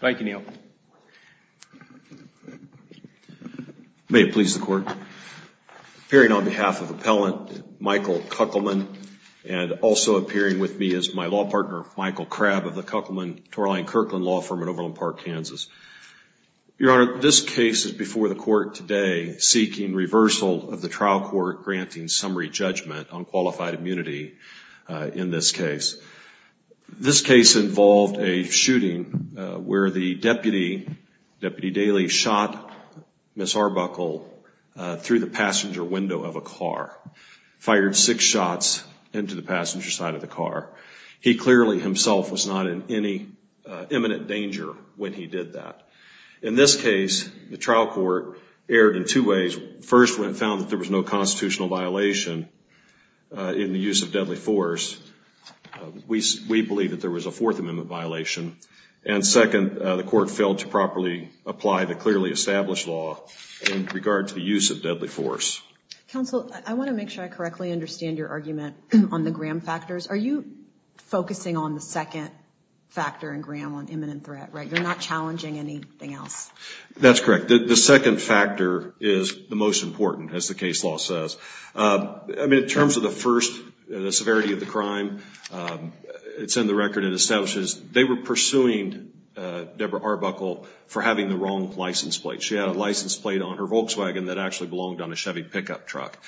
Thank you, Neal. May it please the Court. Appearing on behalf of Appellant Michael Kuckelman and also appearing with me is my law partner, Michael Krabb of the Kuckelman-Torlein-Kirkland Law Firm in Overland Park, Kansas. Your Honor, this case is before the Court today seeking reversal of the trial court granting summary judgment on qualified immunity in this case. This case involved a shooting where the deputy, Deputy Dailey, shot Ms. Arbuckle through the passenger window of a car, fired six shots into the passenger side of the car. He clearly himself was not in any imminent danger when he did that. In this case, the trial court erred in two ways. First, when it found that there was no constitutional violation in the use of deadly force, we believe that there was a Fourth Amendment violation. And second, the Court failed to properly apply the clearly established law in regard to the use of deadly force. Counsel, I want to make sure I correctly understand your argument on the Graham factors. Are you focusing on the second factor in Graham on imminent threat, right? You're not challenging anything else. That's correct. The second factor is the most important, as the case law says. I mean, in the severity of the crime, it's in the record, it establishes they were pursuing Deborah Arbuckle for having the wrong license plate. She had a license plate on her Volkswagen that actually belonged on a Chevy pickup truck.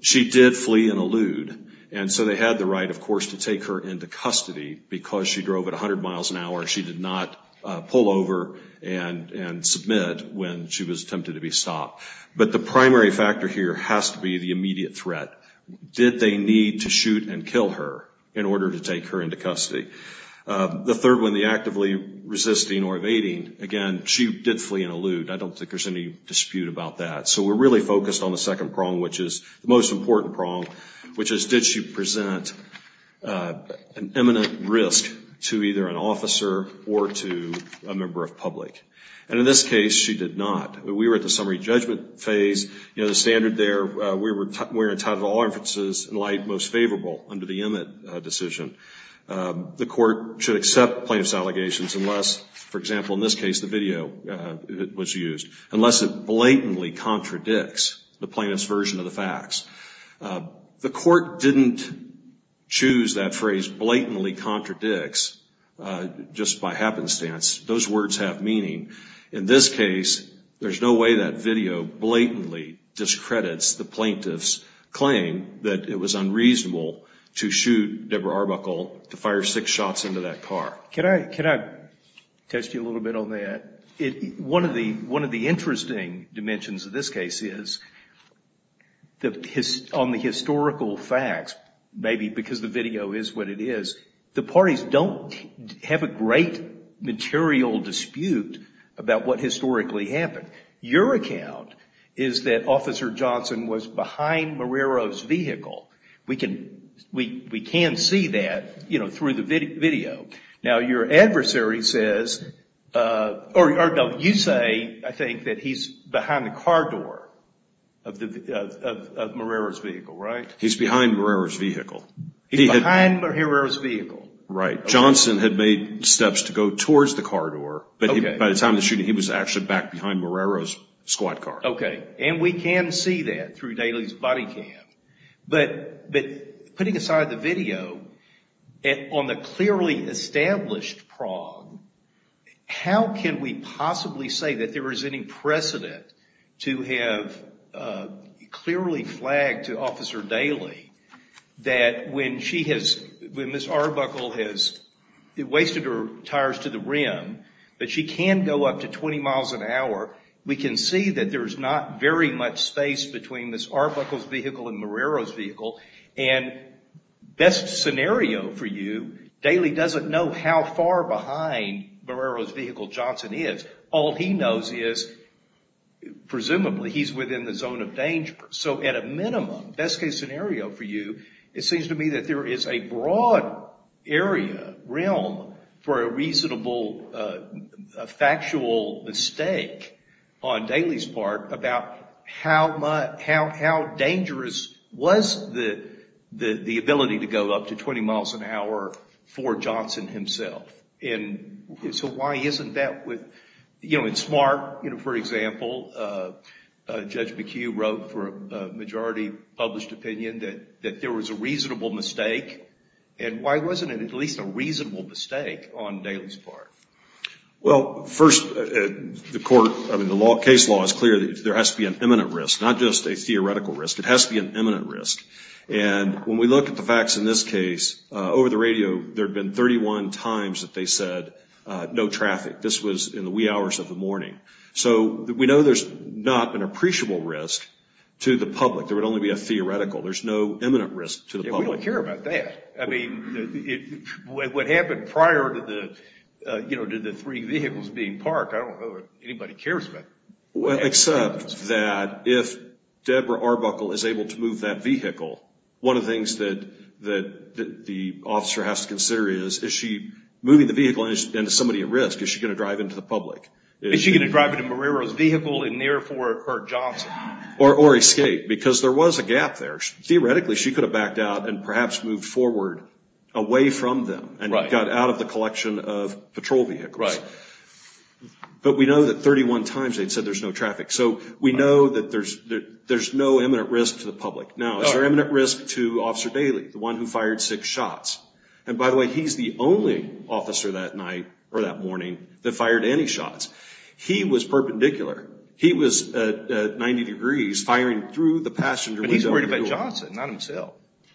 She did flee and elude. And so they had the right, of course, to take her into custody because she drove at 100 miles an hour. She did not pull over and submit when she was attempted to be stopped. But the primary factor here has to be the immediate threat. Did they need to shoot and kill her in order to take her into custody? The third one, the actively resisting or evading, again, she did flee and elude. I don't think there's any dispute about that. So we're really focused on the second prong, which is the most important prong, which is did she present an imminent risk to either an officer or to a member of public? And in this case, she did not. We were at the summary judgment phase. You know, the standard there, we were entitled to all inferences in light most favorable under the Emmett decision. The court should accept plaintiff's allegations unless, for example, in this case, the video was used. Unless it blatantly contradicts the plaintiff's version of the facts. The court didn't choose that phrase blatantly contradicts just by happenstance. Those words have meaning. In this case, there's no way that video blatantly discredits the plaintiff's claim that it was unreasonable to shoot Deborah Arbuckle, to fire six shots into that car. Can I test you a little bit on that? One of the interesting dimensions of this case is on the historical facts, maybe because the video is what it is, the parties don't have a great material dispute about what historically happened. Your account is that Officer Johnson was behind Marrero's vehicle. We can see that, you know, through the video. Now, your adversary says, or you say, I think, that he's behind the car door of Marrero's vehicle, right? He's behind Marrero's vehicle. He's behind Marrero's vehicle. Right. Johnson had made steps to go towards the car door, but by the time of the shooting, he was actually back behind Marrero's squad car. Okay. And we can see that through Daly's body cam. But putting aside the video, on the clearly established prong, how can we possibly say that there is any precedent to have clearly flagged to Officer Daly that when she has, when Ms. Arbuckle has wasted her tires to the rim, that she can go up to 20 miles an hour, we can see that there's not very much space between Ms. Arbuckle's vehicle and Marrero's vehicle. And best scenario for you, Daly doesn't know how far behind Marrero's vehicle Johnson is. All he knows is, presumably, he's within the zone of danger. So, at a minimum, best case scenario for you, it seems to me that there is a broad area, realm, for a reasonable, factual mistake on Daly's part about how dangerous was the ability to go up to 20 miles an hour for Johnson himself? And so why isn't that with, you know, in Smart, you know, for example, Judge McHugh wrote for a majority published opinion that there was a reasonable mistake. And why wasn't it at least a reasonable mistake on Daly's part? Well, first, the court, I mean, the case law is clear that there has to be an imminent risk, not just a theoretical risk. It has to be an imminent risk. And when we look at the facts in this case, over the radio, there have been 31 times that they said no traffic. This was in the wee hours of the morning. So, we know there's not an appreciable risk to the public. There would only be a theoretical. There's no imminent risk to the public. Yeah, we don't care about that. I mean, what happened prior to the, you know, to the three vehicles being parked, I don't know if anybody cares about that. Well, except that if Deborah Arbuckle is able to move that vehicle, one of the things that the officer has to consider is, is she moving the vehicle and is somebody at risk? Is she going to drive into the public? Is she going to drive into Marrero's vehicle and therefore hurt Johnson? Or escape, because there was a gap there. Theoretically, she could have backed out and perhaps moved forward away from them and got out of the collection of patrol vehicles. Right. But we know that 31 times they'd said there's no traffic. So, we know that there's no imminent risk to the public. Now, is there imminent risk to Officer Daley, the one who fired six shots? And by the way, he's the only officer that night, or that morning, that fired any shots. He was perpendicular. He was at 90 degrees, firing through the passenger window. But he's worried about Johnson, not himself.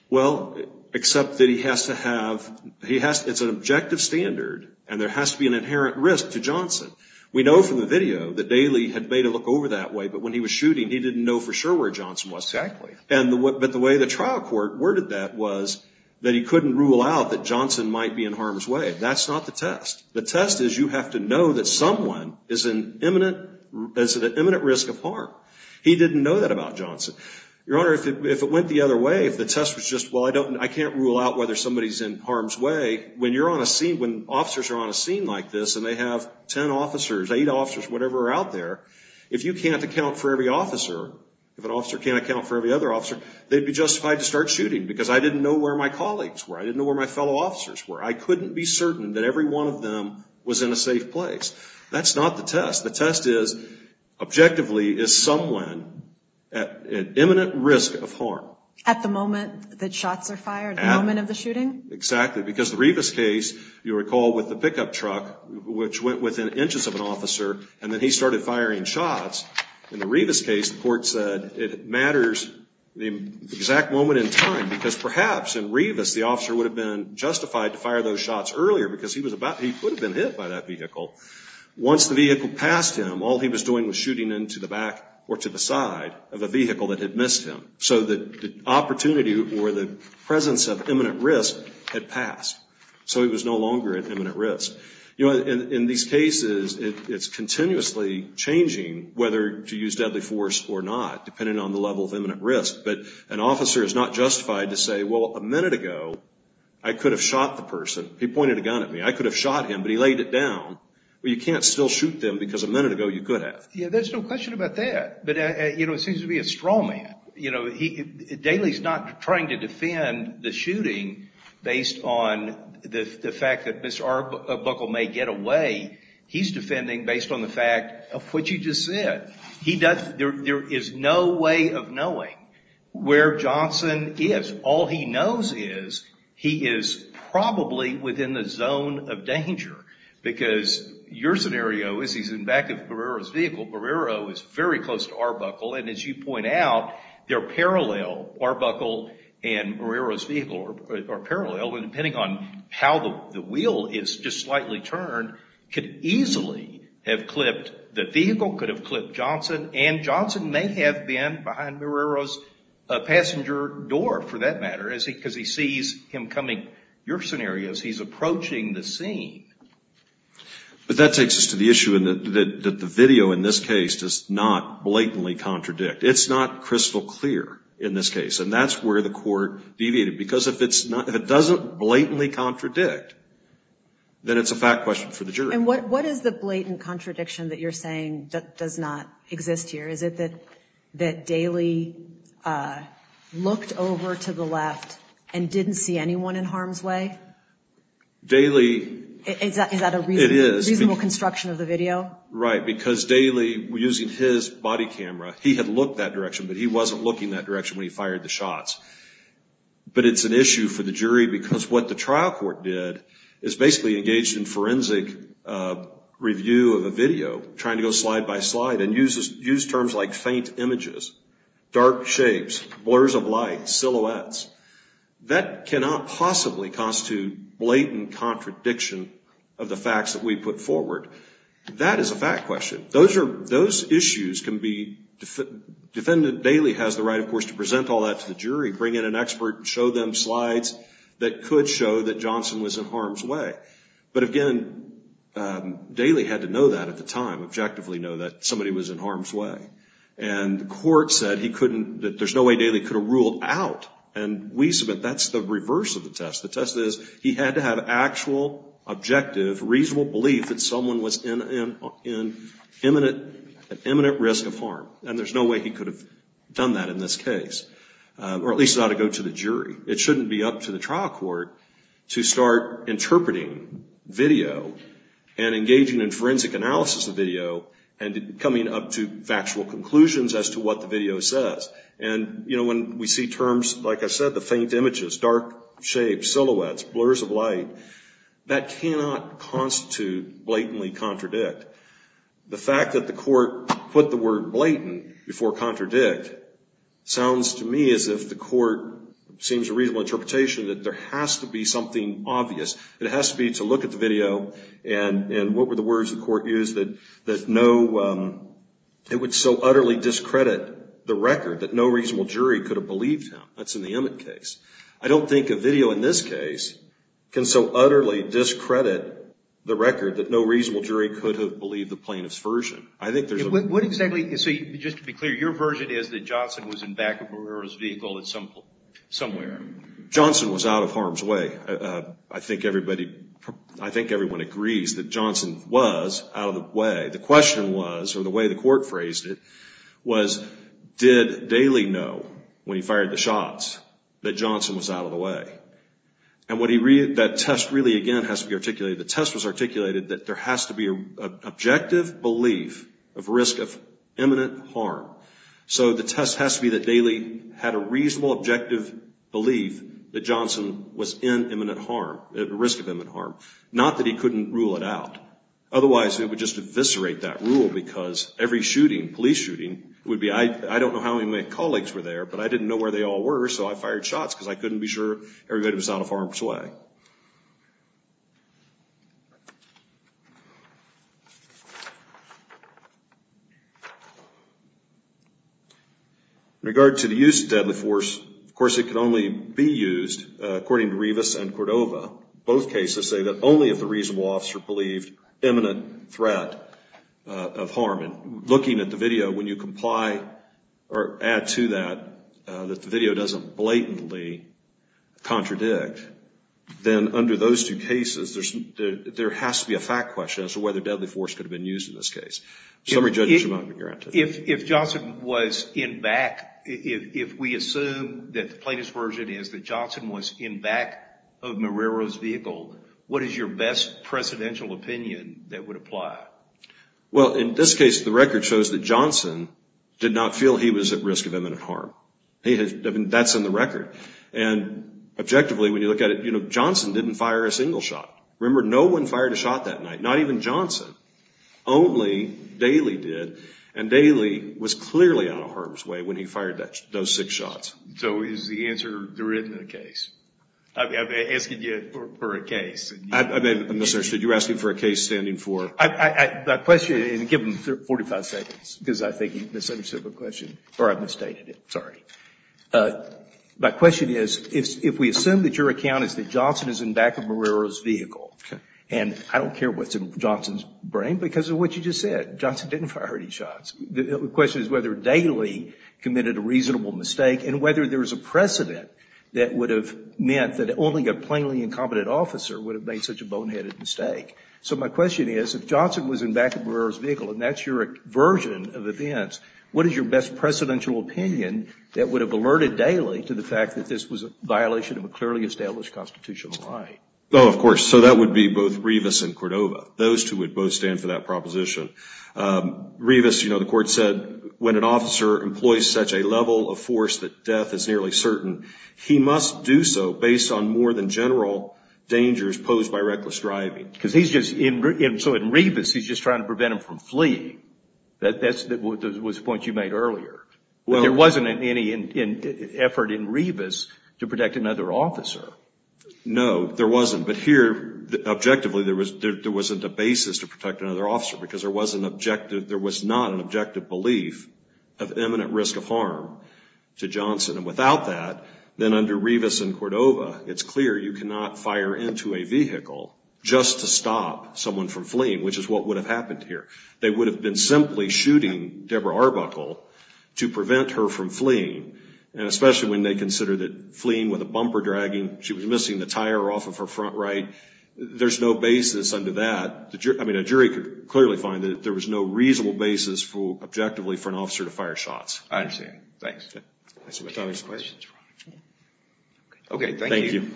Well, except that he has to have, he has, it's an objective standard and there has to be an inherent risk to Johnson. We know from the video that Daley had made a look over that way, but when he was shooting, he didn't know for sure where Johnson was. Exactly. And, but the way the trial court worded that was that he couldn't rule out that Johnson might be in harm's way. That's not the test. The test is you have to know that someone is an imminent, is at an imminent risk of harm. He didn't know that about Johnson. Your Honor, if it went the other way, if the test was just, well, I can't rule out whether somebody's in harm's way, when you're on a scene, when officers are on a scene like this and they have ten officers, eight officers, whatever are out there, if you can't account for every officer, if an officer can't account for every other officer, they'd be justified to start shooting because I didn't know where my colleagues were. I didn't know where my fellow officers were. I couldn't be certain that every one of them was in a safe place. That's not the test. The test is, objectively, is someone at an imminent risk of harm? At the moment that shots are fired? At the moment of the shooting? Exactly. Because the Rivas case, you'll recall with the pickup truck, which went within inches of an officer, and then he started firing shots. In the Rivas case, the court said it matters the exact moment in time because perhaps in Rivas the officer would have been justified to fire those shots earlier because he was about, he could have been hit by that vehicle. Once the vehicle passed him, all he was doing was shooting into the back or to the side of a vehicle that had missed him. So the opportunity or the presence of imminent risk had passed. So he was no longer at imminent risk. You know, in these cases, it's continuously changing whether to use deadly force or not, depending on the level of imminent risk. But an officer is not justified to say, well, a minute ago, I could have shot the person. He pointed a gun at me. I could have shot him, but he laid it down. Well, you can't still shoot them because a minute ago you could have. Yeah, there's no question about that. But, you know, it seems to be a straw man. You know, he, Daly's not trying to defend the shooting based on the fact that Mr. Arbuckle may get away. He's defending based on the fact of what you just said. He does, there is no way of knowing where Johnson is. All he knows is he is probably within the zone of danger. Because your scenario is he's in back of Barrero's vehicle. Barrero is very close to Arbuckle, and as you point out, they're parallel. Arbuckle and Barrero's vehicle are parallel, and depending on how the wheel is just slightly turned, could easily have clipped the vehicle, could have clipped Johnson, and Johnson may have been behind Barrero's passenger door, for that matter, because he sees him coming. Your scenario is he's approaching the scene. But that takes us to the issue that the video in this case does not blatantly contradict. It's not crystal clear in this case, and that's where the court deviated. Because if it doesn't blatantly contradict, then it's a fact question for the jury. And what is the blatant contradiction that you're saying that does not exist here? Is it that Daly looked over to the left and didn't see anyone in harm's way? Daly Is that a reasonable construction of the video? Right. Because Daly, using his body camera, he had looked that direction, but he wasn't looking that direction when he fired the shots. But it's an issue for the jury because what the trial court did is basically engaged in forensic review of a video, trying to go slide by slide and use terms like faint images, dark shapes, blurs of light, silhouettes. That cannot possibly constitute blatant contradiction of the facts that we put forward. That is a fact question. Those issues can be defended. Daly has the right, of course, to present all that to the jury, bring in an expert, show them slides that could show that Johnson was in harm's way. But again, Daly had to know that at the time, objectively know that somebody was in harm's way. And the court said he couldn't, that there's no way Daly could have ruled out. And we submit that's the reverse of the test. The test is he had to have actual, objective, reasonable belief that someone was in imminent risk of harm. And there's no way he could have done that in this case. Or at least it ought to go to the jury. It shouldn't be up to the trial court to start interpreting video and engaging in forensic analysis of video and coming up to factual conclusions as to what the video says. And, you know, when we see terms like I said, the faint images, dark shapes, silhouettes, blurs of light, that cannot constitute blatantly contradict. The fact that the court put the court seems a reasonable interpretation that there has to be something obvious. It has to be to look at the video and what were the words the court used that no, it would so utterly discredit the record that no reasonable jury could have believed him. That's in the Emmett case. I don't think a video in this case can so utterly discredit the record that no reasonable jury could have believed the plaintiff's version. I think there's a... What exactly, so just to be clear, your version is that Johnson was in back of Guerrero's temple somewhere. Johnson was out of harm's way. I think everybody, I think everyone agrees that Johnson was out of the way. The question was, or the way the court phrased it, was did Daley know when he fired the shots that Johnson was out of the way? And what he, that test really again has to be articulated. The test was articulated that there has to be an objective belief of risk of imminent harm. So the test has to be that Daley had a reasonable objective belief that Johnson was in imminent harm, at risk of imminent harm. Not that he couldn't rule it out. Otherwise, it would just eviscerate that rule because every shooting, police shooting, would be, I don't know how many of my colleagues were there, but I didn't know where they all were so I fired shots because I couldn't be sure everybody was out of harm's way. In regard to the use of deadly force, of course it can only be used according to Rivas and Cordova. Both cases say that only if the reasonable officer believed imminent threat of harm. Looking at the video, when you comply or add to that that the video doesn't blatantly contradict, then under those two cases there has to be a fact question as to whether deadly force should be granted. If Johnson was in back, if we assume that the plaintiff's version is that Johnson was in back of Marrero's vehicle, what is your best precedential opinion that would apply? Well, in this case, the record shows that Johnson did not feel he was at risk of imminent harm. That's in the record. And objectively, when you look at it, Johnson didn't fire a single shot. Remember, no one fired a shot that night. Not even Johnson. Only Daly did. And Daly was clearly out of harm's way when he fired those six shots. So is the answer therein in the case? I'm asking you for a case. I'm sorry, sir. You're asking for a case standing for? My question, and give him 45 seconds, because I think he misunderstood the question, or I've misstated it. Sorry. My question is, if we assume that your account is that Johnson is in back of Marrero's vehicle, and I don't care what's in Johnson's brain because of what you just said. Johnson didn't fire any shots. The question is whether Daly committed a reasonable mistake and whether there's a precedent that would have meant that only a plainly incompetent officer would have made such a boneheaded mistake. So my question is, if Johnson was in back of Marrero's vehicle, and that's your version of events, what is your best precedential opinion that would have alerted Daly to the fact that this was a violation of a clearly established constitutional right? Oh, of course. So that would be both Revis and Cordova. Those two would both stand for that proposition. Revis, you know, the court said, when an officer employs such a level of force that death is nearly certain, he must do so based on more than general dangers posed by reckless driving. Because he's just, so in Revis, he's just trying to prevent him from fleeing. That was the point you made earlier. There wasn't any effort in Revis to protect another officer. No, there wasn't. But here, objectively, there wasn't a basis to protect another officer because there was not an objective belief of imminent risk of harm to Johnson. And without that, then under Revis and Cordova, it's clear you cannot fire into a vehicle just to stop someone from fleeing, which is what would have happened here. They would have been simply shooting Deborah Arbuckle to prevent her from fleeing. And especially when they consider that fleeing with a bumper dragging, she was missing the tire off of her front right. There's no basis under that. I mean, a jury could clearly find that there was no reasonable basis for, objectively, for an officer to fire shots. I understand. Thanks. Okay. Thank you.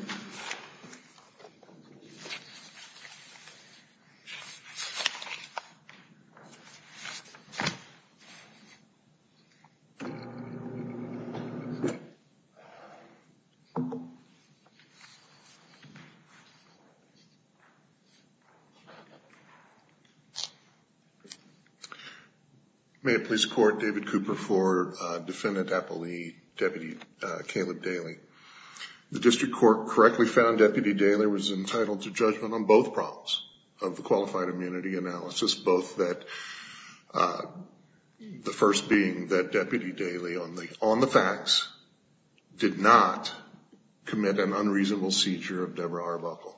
May it please the Court, David Cooper for Defendant Apolli, Deputy Caleb Daly. The District Court correctly found Deputy Daly was entitled to judgment on both problems of the qualified immunity analysis, both that, the first being that Deputy Daly, on the facts, did not commit an unreasonable seizure of Deborah Arbuckle.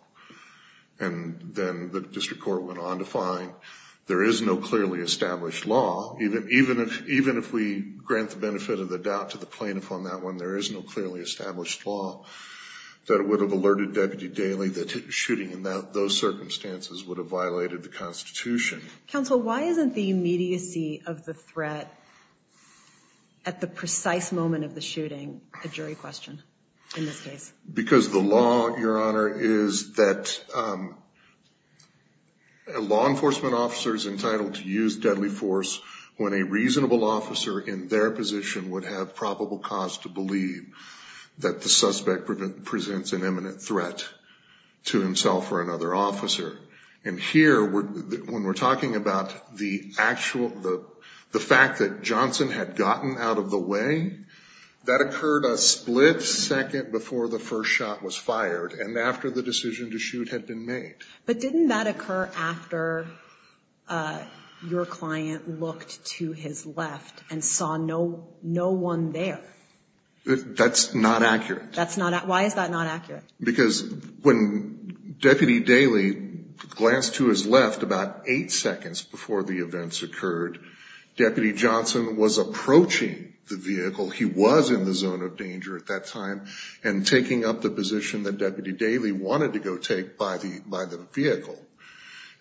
And then the District Court went on to find there is no clearly established law, even if we grant the benefit of the doubt to the plaintiff on that one, there is no clearly established law that would have alerted Deputy Daly that shooting in those circumstances would have violated the Constitution. Counsel, why isn't the immediacy of the threat at the precise moment of the shooting a jury question in this case? Because the law, Your Honor, is that a law enforcement officer is entitled to use deadly force when a reasonable officer in their position would have probable cause to believe that the suspect presents an imminent threat to himself or another officer. And here, when we're talking about the actual, the fact that Johnson had gotten out of the way, that occurred a split second before the first shot was fired and after the decision to shoot had been made. But didn't that occur after your client looked to his left and saw no one there? That's not accurate. That's not, why is that not accurate? Because when Deputy Daly glanced to his left about eight seconds before the events occurred, Deputy Johnson was approaching the vehicle. He was in the zone of danger at that time and taking up the position that Deputy Daly wanted to go take by the vehicle.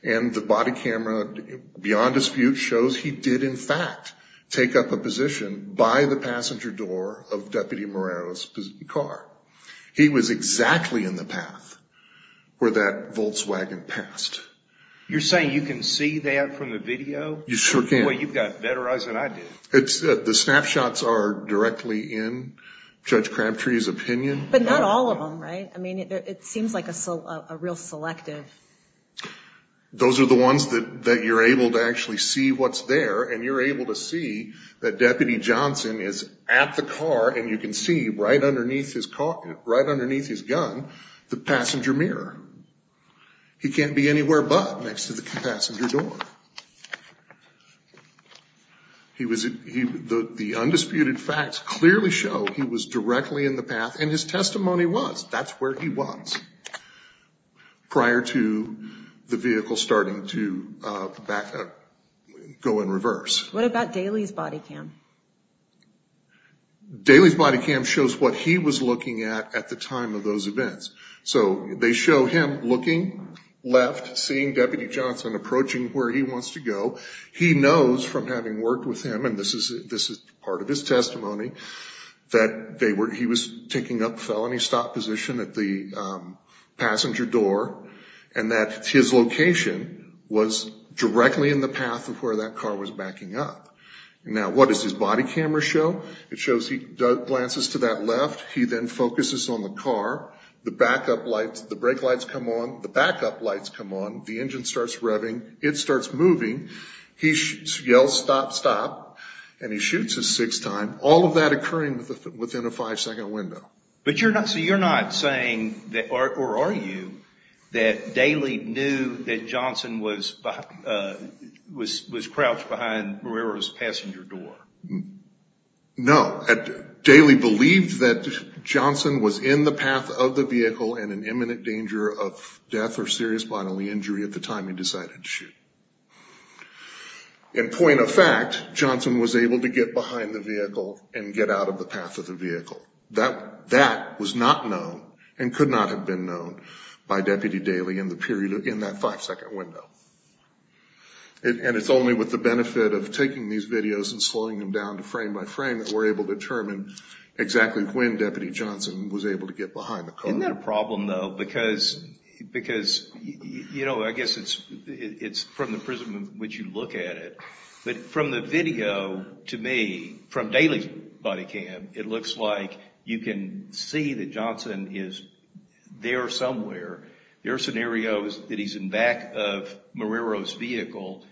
And the of Deputy Morano's car. He was exactly in the path where that Volkswagen passed. You're saying you can see that from the video? You sure can. Boy, you've got better eyes than I do. The snapshots are directly in Judge Crabtree's opinion. But not all of them, right? I mean, it seems like a real selective. Those are the ones that you're able to actually see what's there and you're able to see that and you can see right underneath his car, right underneath his gun, the passenger mirror. He can't be anywhere but next to the passenger door. He was, the undisputed facts clearly show he was directly in the path and his testimony was that's where he was prior to the vehicle starting to go in reverse. What about Daly's body cam? Daly's body cam shows what he was looking at at the time of those events. So they show him looking left, seeing Deputy Johnson approaching where he wants to go. He knows from having worked with him, and this is part of his testimony, that he was taking up felony stop position at the passenger door and that his location was directly in the path of where that car was backing up. Now what does his body camera show? It shows he glances to that left. He then focuses on the car, the backup lights, the brake lights come on, the backup lights come on, the engine starts revving, it starts moving, he yells stop, stop, and he shoots a six time, all of that occurring within a five second window. But you're not saying, or are you, that Daly knew that Johnson was crouched behind where he was passing your door? No. Daly believed that Johnson was in the path of the vehicle and in imminent danger of death or serious bodily injury at the time he decided to shoot. In point of fact, Johnson was able to get behind the vehicle and get out of the path of the vehicle. That was not known and could not have been known by Deputy Daly in that five second window. And it's only with the benefit of taking these videos and slowing them down to frame by frame that we're able to determine exactly when Deputy Johnson was able to get behind the car. Isn't that a problem though? Because, you know, I guess it's from the prism in which you look at it, but from the video to me, from Daly's body cam, it looks like you can see that Johnson is there somewhere. There are scenarios that he's in back of Marrero's vehicle.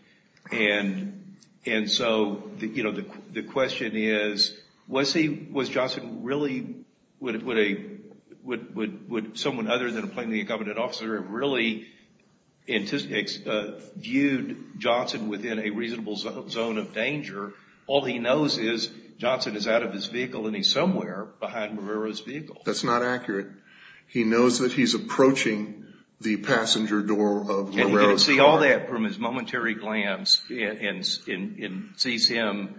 And so, you know, the question is, was Johnson really, would someone other than a plainly All he knows is Johnson is out of his vehicle and he's somewhere behind Marrero's vehicle. That's not accurate. He knows that he's approaching the passenger door of Marrero's car. And you can see all that from his momentary glance and sees him,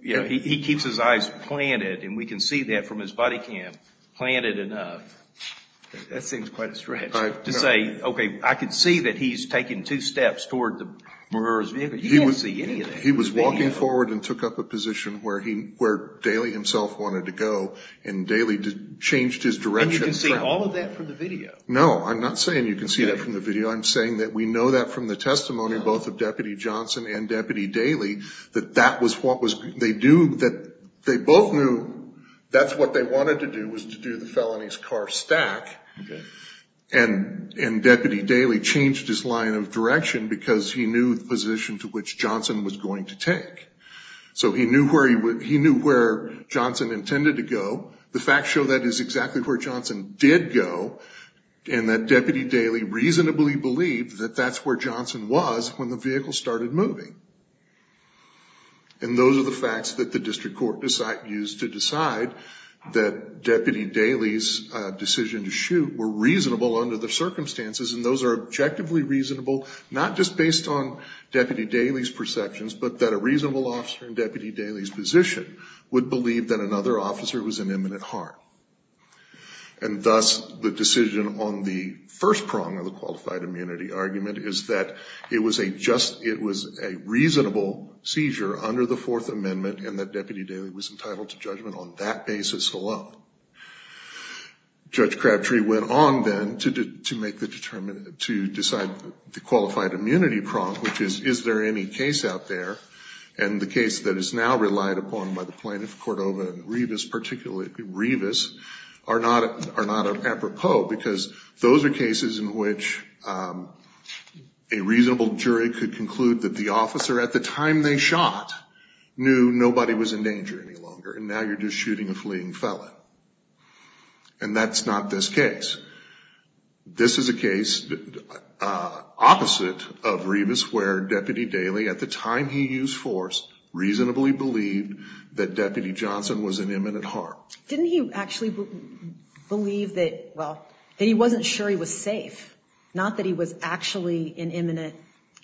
you know, he keeps his eyes planted and we can see that from his body cam, planted enough. That seems quite a stretch to say, okay, I can see that he's taken two steps toward Marrero's vehicle. He can't see anything. He was walking forward and took up a position where Daly himself wanted to go and Daly changed his direction. And you can see all of that from the video? No, I'm not saying you can see that from the video. I'm saying that we know that from the testimony, both of Deputy Johnson and Deputy Daly, that that was what they do, that they both knew that's what they wanted to do was to do the felonies car stack. And Deputy Daly changed his line of direction because he knew the position to which Johnson was going to take. So he knew where he would, he knew where Johnson intended to go. The facts show that is exactly where Johnson did go and that Deputy Daly reasonably believed that that's where Johnson was when the vehicle started moving. And those are the facts that the district court used to decide that Deputy Daly's decision to shoot were reasonable under the circumstances and those are objectively reasonable, not just based on Deputy Daly's perceptions, but that a reasonable officer in Deputy Daly's position would believe that another officer was an imminent harm. And thus the decision on the first prong of the qualified immunity argument is that it was a reasonable seizure under the Fourth Amendment and that Deputy Daly was entitled to judgment on that basis alone. Judge Crabtree went on then to decide the qualified immunity prong, which is, is there any case out there? And the case that is now relied upon by the plaintiff, Cordova and Rivas, particularly Rivas, are not apropos because those are cases in which a reasonable jury could conclude that the officer at the time they shot knew nobody was in danger any longer and now you're shooting a fleeing felon. And that's not this case. This is a case opposite of Rivas where Deputy Daly, at the time he used force, reasonably believed that Deputy Johnson was an imminent harm. Didn't he actually believe that, well, that he wasn't sure he was safe? Not that he was actually an imminent,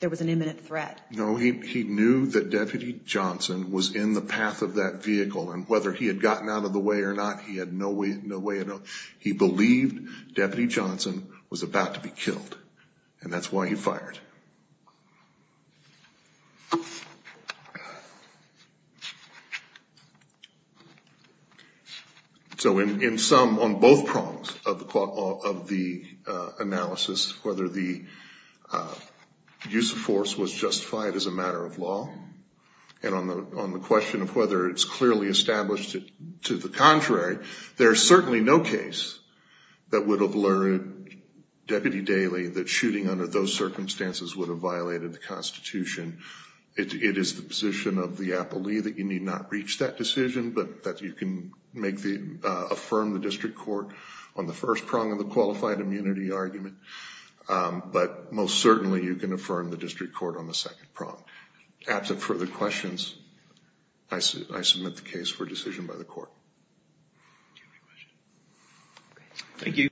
there was an imminent threat. No, he knew that Deputy Johnson was in the path of that vehicle and whether he had gotten out of the way or not, he had no way of knowing. He believed Deputy Johnson was about to be killed and that's why he fired. So in sum, on both prongs of the analysis, whether the use of force was justified as a matter of law and on the question of whether it's clearly established to the contrary, there's certainly no case that would have lured Deputy Daly that shooting under those circumstances would have violated the Constitution. It is the position of the appellee that you need not reach that decision but that you can affirm the district court on the first prong of the qualified immunity argument. But most certainly you can affirm the district court on the second prong. Absent further questions, I submit the case for decision by the court.